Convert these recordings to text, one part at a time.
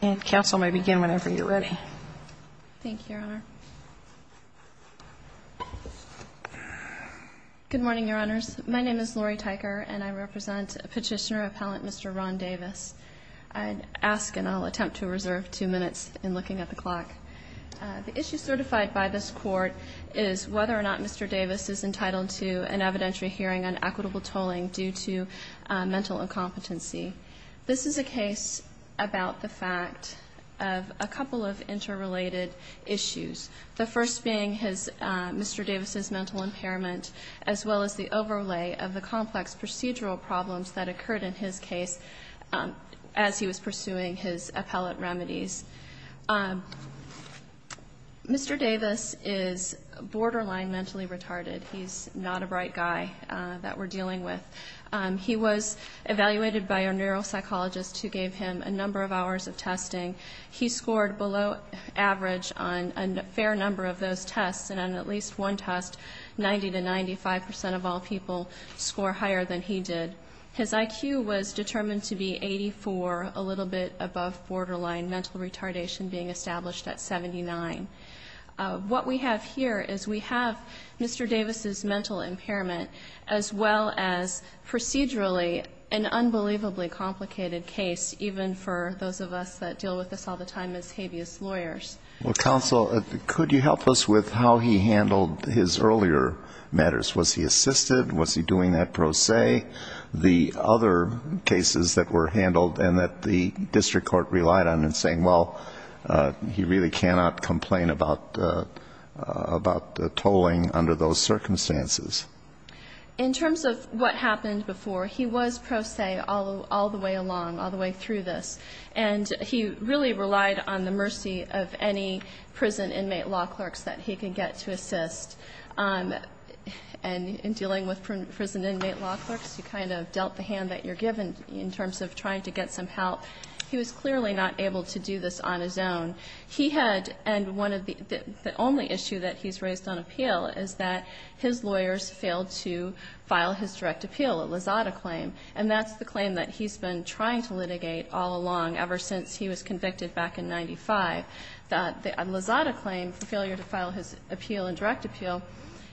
And counsel may begin whenever you're ready. Thank you, Your Honor. Good morning, Your Honors. My name is Lori Tyker, and I represent Petitioner Appellant Mr. Ron Davis. I ask and I'll attempt to reserve two minutes in looking at the clock. The issue certified by this Court is whether or not Mr. Davis is entitled to an evidentiary hearing on equitable tolling due to mental incompetency. This is a case about the fact of a couple of interrelated issues, the first being his Mr. Davis' mental impairment, as well as the overlay of the complex procedural problems that occurred in his case as he was pursuing his appellate remedies. Mr. Davis is borderline mentally retarded. He's not a bright guy that we're dealing with. He was evaluated by a neuropsychologist who gave him a number of hours of testing. He scored below average on a fair number of those tests, and on at least one test 90 to 95 percent of all people score higher than he did. His IQ was determined to be 84, a little bit above borderline mental retardation being established at 79. What we have here is we have Mr. Davis' mental impairment, as well as procedurally an unbelievably complicated case, even for those of us that deal with this all the time as habeas lawyers. Well, counsel, could you help us with how he handled his earlier matters? Was he assisted? Was he doing that pro se, the other cases that were handled and that the district court relied on and saying, well, he really cannot complain about tolling under those circumstances? In terms of what happened before, he was pro se all the way along, all the way through this. And he really relied on the mercy of any prison inmate law clerks that he could get to assist. And in dealing with prison inmate law clerks, you kind of dealt the hand that you're given in terms of trying to get some help. He was clearly not able to do this on his own. He had, and one of the only issue that he's raised on appeal is that his lawyers failed to file his direct appeal, a Lozada claim, and that's the claim that he's been trying to litigate all along, ever since he was convicted back in 95. The Lozada claim, the failure to file his appeal and direct appeal,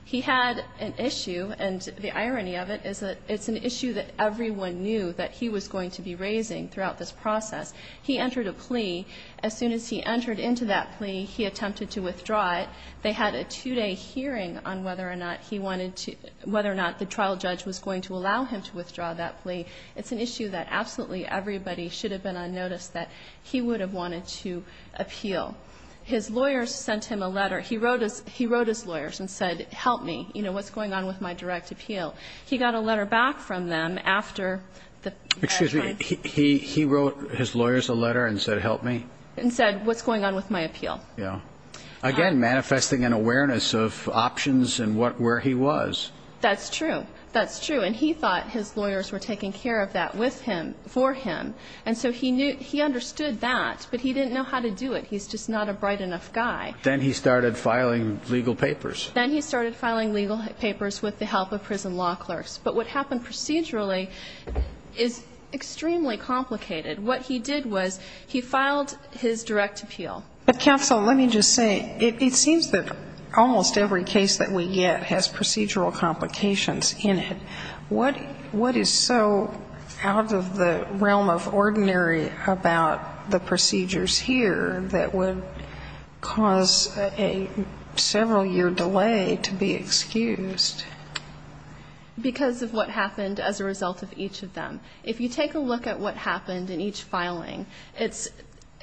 he had an issue and the irony of it is that it's an issue that everyone knew that he was going to be raising throughout this process. He entered a plea. As soon as he entered into that plea, he attempted to withdraw it. They had a two-day hearing on whether or not he wanted to, whether or not the trial judge was going to allow him to withdraw that plea. It's an issue that absolutely everybody should have been on notice that he would have wanted to appeal. His lawyers sent him a letter. He wrote his lawyers and said, help me, you know, what's going on with my direct appeal? He got a letter back from them after the trial. He wrote his lawyers a letter and said, help me? And said, what's going on with my appeal? Yeah. Again, manifesting an awareness of options and where he was. That's true. That's true. And he thought his lawyers were taking care of that with him, for him, and so he understood that, but he didn't know how to do it. He's just not a bright enough guy. Then he started filing legal papers. Then he started filing legal papers with the help of prison law clerks. But what happened procedurally is extremely complicated. What he did was he filed his direct appeal. But counsel, let me just say, it seems that almost every case that we get has procedural complications in it. What is so out of the realm of ordinary about the procedures here that would cause a several-year delay to be excused? Because of what happened as a result of each of them. If you take a look at what happened in each filing, it's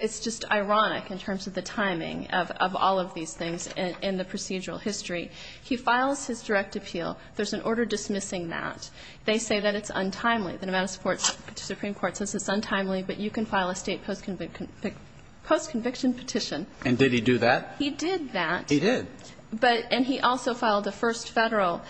just ironic in terms of the timing of all of these things in the procedural history. He files his direct appeal. There's an order dismissing that. They say that it's untimely. The Nevada Supreme Court says it's untimely, but you can file a state post-conviction petition. And did he do that? He did that. He did. And he also filed the first Federal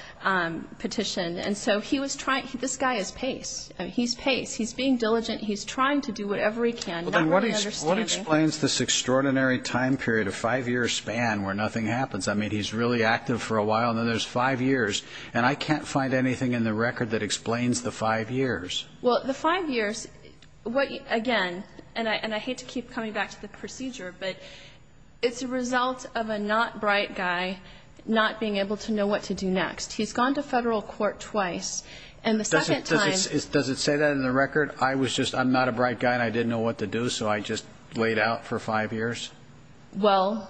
petition. And so he was trying to do this guy's pace. He's pace. He's being diligent. He's trying to do whatever he can, not really understanding. What explains this extraordinary time period of five years span where nothing happens? I mean, he's really active for a while, and then there's five years. And I can't find anything in the record that explains the five years. Well, the five years, again, and I hate to keep coming back to the procedure, but it's a result of a not-bright guy not being able to know what to do next. He's gone to Federal court twice. And the second time ---- Does it say that in the record? I was just not a bright guy and I didn't know what to do, so I just laid out for five years? Well,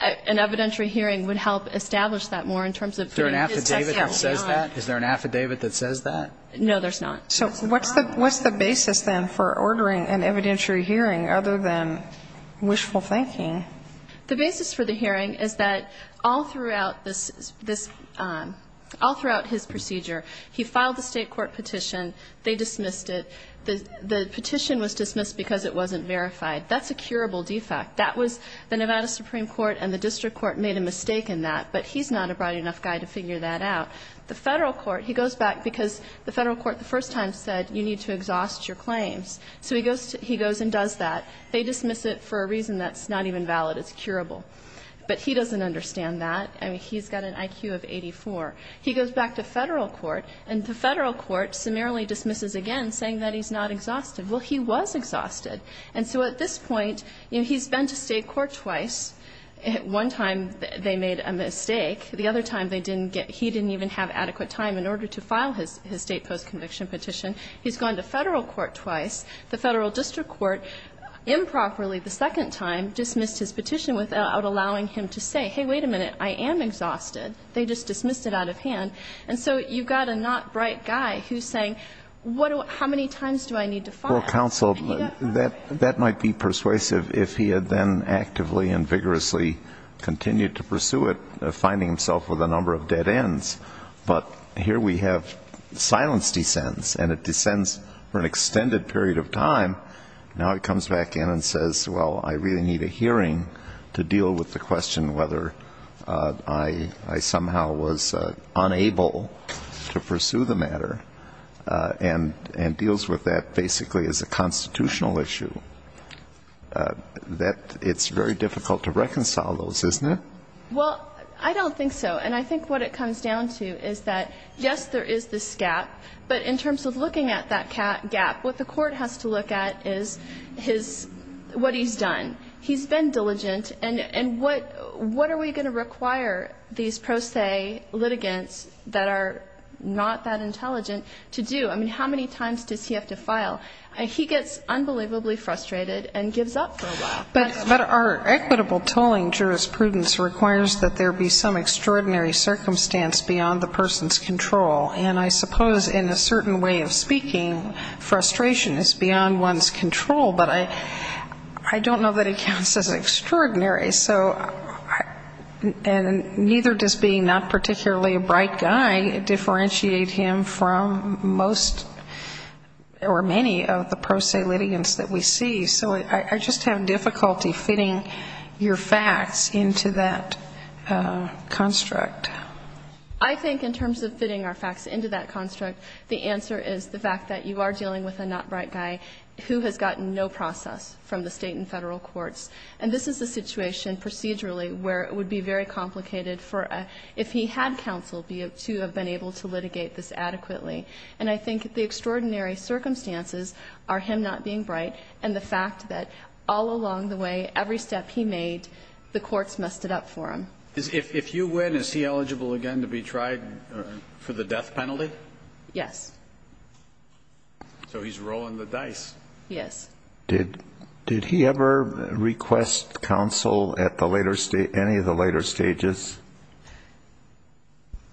an evidentiary hearing would help establish that more in terms of getting his testimony on. Is there an affidavit that says that? No, there's not. So what's the basis, then, for ordering an evidentiary hearing other than wishful thinking? The basis for the hearing is that all throughout this ---- all throughout his procedure, he filed the State court petition. They dismissed it. The petition was dismissed because it wasn't verified. That's a curable defect. That was the Nevada Supreme Court and the district court made a mistake in that, but he's not a bright enough guy to figure that out. The Federal court, he goes back because the Federal court the first time said you need to exhaust your claims. So he goes and does that. They dismiss it for a reason that's not even valid. It's curable. But he doesn't understand that. I mean, he's got an IQ of 84. He goes back to Federal court, and the Federal court summarily dismisses again saying that he's not exhausted. Well, he was exhausted. And so at this point, you know, he's been to State court twice. One time they made a mistake. The other time they didn't get ---- he didn't even have adequate time in order to file his State postconviction petition. He's gone to Federal court twice. The Federal district court improperly the second time dismissed his petition without allowing him to say, hey, wait a minute, I am exhausted. They just dismissed it out of hand. And so you've got a not bright guy who's saying what do ---- how many times do I need to file? Federal counsel, that might be persuasive if he had then actively and vigorously continued to pursue it, finding himself with a number of dead ends. But here we have silence descends, and it descends for an extended period of time. Now he comes back in and says, well, I really need a hearing to deal with the question whether I somehow was unable to pursue the matter, and deals with that basically as a constitutional issue, that it's very difficult to reconcile those, isn't it? Well, I don't think so. And I think what it comes down to is that, yes, there is this gap, but in terms of looking at that gap, what the Court has to look at is his ---- what he's done. He's been diligent. And what are we going to require these pro se litigants that are not that intelligent to do? I mean, how many times does he have to file? He gets unbelievably frustrated and gives up for a while. But our equitable tolling jurisprudence requires that there be some extraordinary circumstance beyond the person's control. And I suppose in a certain way of speaking, frustration is beyond one's control, but I don't know that it counts as extraordinary. So I ---- and neither does being not particularly a bright guy differentiate him from most or many of the pro se litigants that we see. So I just have difficulty fitting your facts into that construct. I think in terms of fitting our facts into that construct, the answer is the fact that you are dealing with a not bright guy who has gotten no process from the State and Federal courts. And this is a situation procedurally where it would be very complicated for a ---- if he had counsel to have been able to litigate this adequately. And I think the extraordinary circumstances are him not being bright and the fact that all along the way, every step he made, the courts messed it up for him. If you win, is he eligible again to be tried for the death penalty? Yes. So he's rolling the dice. Yes. Did he ever request counsel at the later stage, any of the later stages?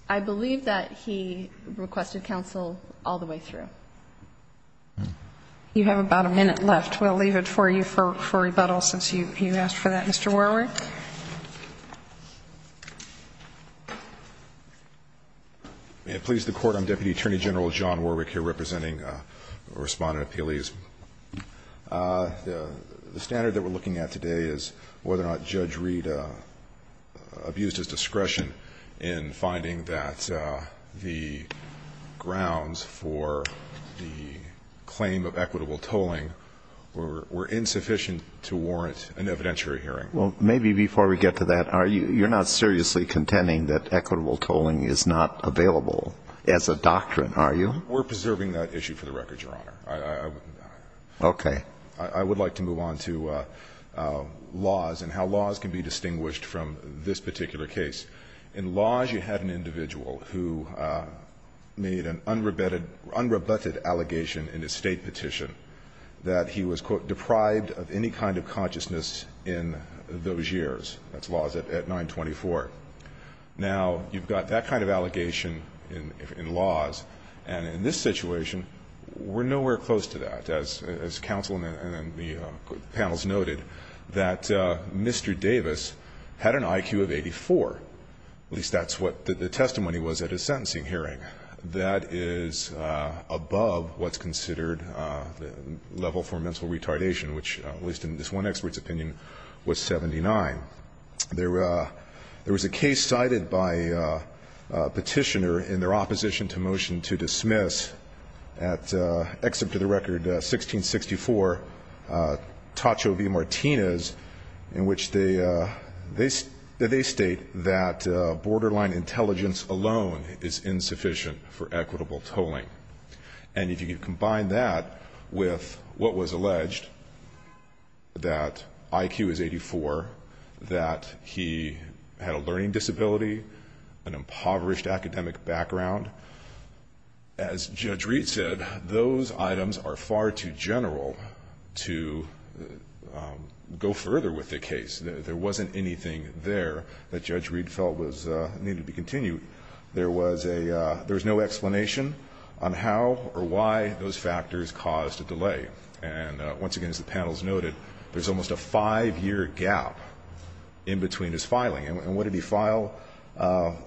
I believe that he requested counsel all the way through. You have about a minute left. We'll leave it for you for rebuttal since you asked for that. Mr. Warwick. May it please the Court, I'm Deputy Attorney General John Warwick here representing Respondent Appeals. The standard that we're looking at today is whether or not Judge Reed abused his discretion in finding that the grounds for the claim of equitable tolling were insufficient to warrant an evidentiary hearing. Well, maybe before we get to that, you're not seriously contending that equitable tolling is not available as a doctrine, are you? We're preserving that issue for the record, Your Honor. Okay. I would like to move on to laws and how laws can be distinguished from this particular case. In laws, you had an individual who made an unrebutted allegation in his State petition that he was, quote, deprived of any kind of consciousness in those years. That's laws at 924. Now, you've got that kind of allegation in laws, and in this situation, we're nowhere close to that. As counsel and the panels noted, that Mr. Davis had an IQ of 84. At least that's what the testimony was at his sentencing hearing. That is above what's considered the level for mental retardation, which, at least in this one expert's opinion, was 79. There was a case cited by a petitioner in their opposition to motion to dismiss, except for the record, 1664, Tacho v. Martinez, in which they state that borderline intelligence alone is insufficient for equitable tolling. And if you combine that with what was alleged, that IQ is 84, that he had a learning disability, an impoverished academic background, as Judge Reed said, those items are far too general to go further with the case. There wasn't anything there that Judge Reed felt needed to be continued. There was a no explanation on how or why those factors caused a delay. And once again, as the panels noted, there's almost a five-year gap in between his filing. And what did he file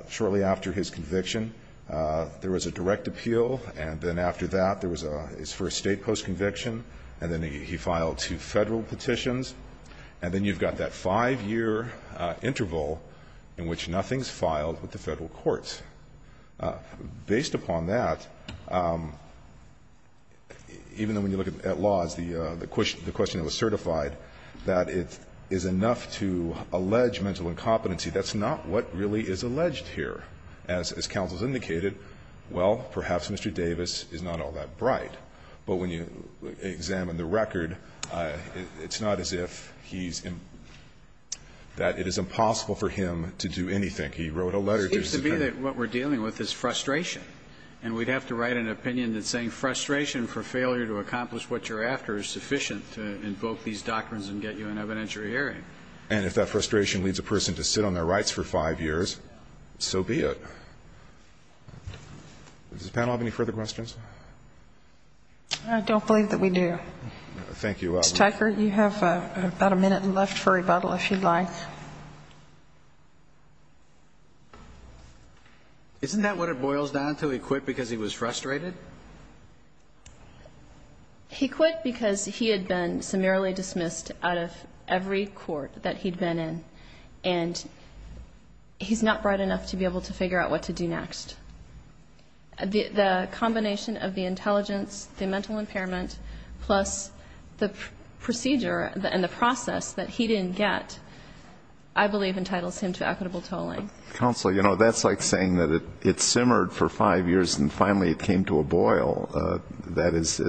shortly after his conviction? There was a direct appeal, and then after that, there was his first state post-conviction, and then he filed two Federal petitions. And then you've got that five-year interval in which nothing's filed with the Federal courts. Based upon that, even when you look at laws, the question that was certified that it is enough to allege mental incompetency, that's not what really is alleged here. As counsel has indicated, well, perhaps Mr. Davis is not all that bright. But when you examine the record, it's not as if he's in that it is impossible for him to do anything. He wrote a letter to his attorney. It seems to me that what we're dealing with is frustration. And we'd have to write an opinion that's saying frustration for failure to accomplish what you're after is sufficient to invoke these doctrines and get you an evidentiary hearing. And if that frustration leads a person to sit on their rights for five years, so be Does the panel have any further questions? I don't believe that we do. Thank you. Mr. Tucker, you have about a minute left for rebuttal, if you'd like. Isn't that what it boils down to? He quit because he was frustrated? He quit because he had been summarily dismissed out of every court that he'd been in. And he's not bright enough to be able to figure out what to do next. The combination of the intelligence, the mental impairment, plus the procedure and the process that he didn't get, I believe entitles him to equitable tolling. Counsel, you know, that's like saying that it simmered for five years and finally it came to a boil. That is,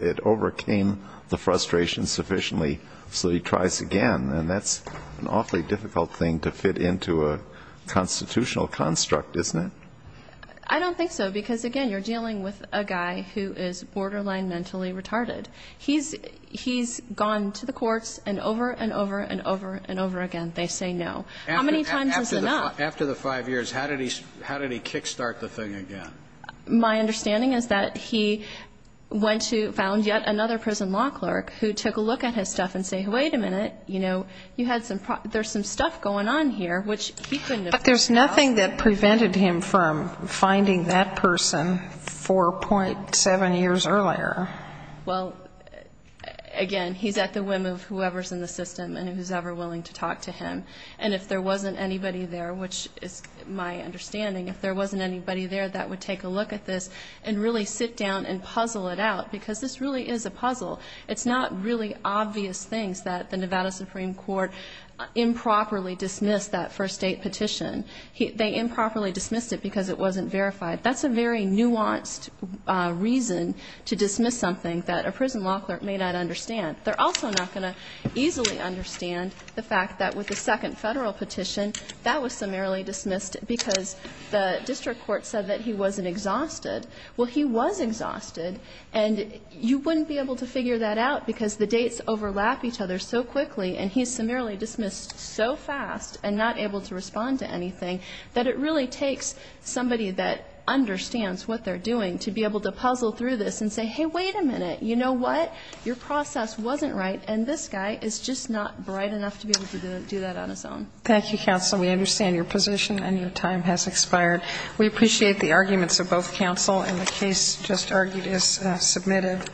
it overcame the frustration sufficiently so he tries again. And that's an awfully difficult thing to fit into a constitutional construct, isn't it? I don't think so, because, again, you're dealing with a guy who is borderline mentally retarded. He's gone to the courts and over and over and over and over again they say no. How many times is enough? After the five years, how did he kick-start the thing again? My understanding is that he went to, found yet another prison law clerk who took a look at his stuff and said, wait a minute, you know, you had some, there's some stuff going on here, which he couldn't have figured out. But there's nothing that prevented him from finding that person 4.7 years earlier. Well, again, he's at the whim of whoever's in the system and who's ever willing to talk to him. And if there wasn't anybody there, which is my understanding, if there wasn't anybody there that would take a look at this and really sit down and puzzle it out, because this really is a puzzle. It's not really obvious things that the Nevada Supreme Court improperly dismissed that first date petition. They improperly dismissed it because it wasn't verified. That's a very nuanced reason to dismiss something that a prison law clerk may not understand. They're also not going to easily understand the fact that with the second Federal petition, that was summarily dismissed because the district court said that he wasn't exhausted. Well, he was exhausted. And you wouldn't be able to figure that out because the dates overlap each other so quickly, and he's summarily dismissed so fast and not able to respond to anything that it really takes somebody that understands what they're doing to be able to puzzle through this and say, hey, wait a minute. You know what? Your process wasn't right, and this guy is just not bright enough to be able to do that on his own. Thank you, counsel. We understand your position, and your time has expired. We appreciate the arguments of both counsel, and the case just argued is submitted.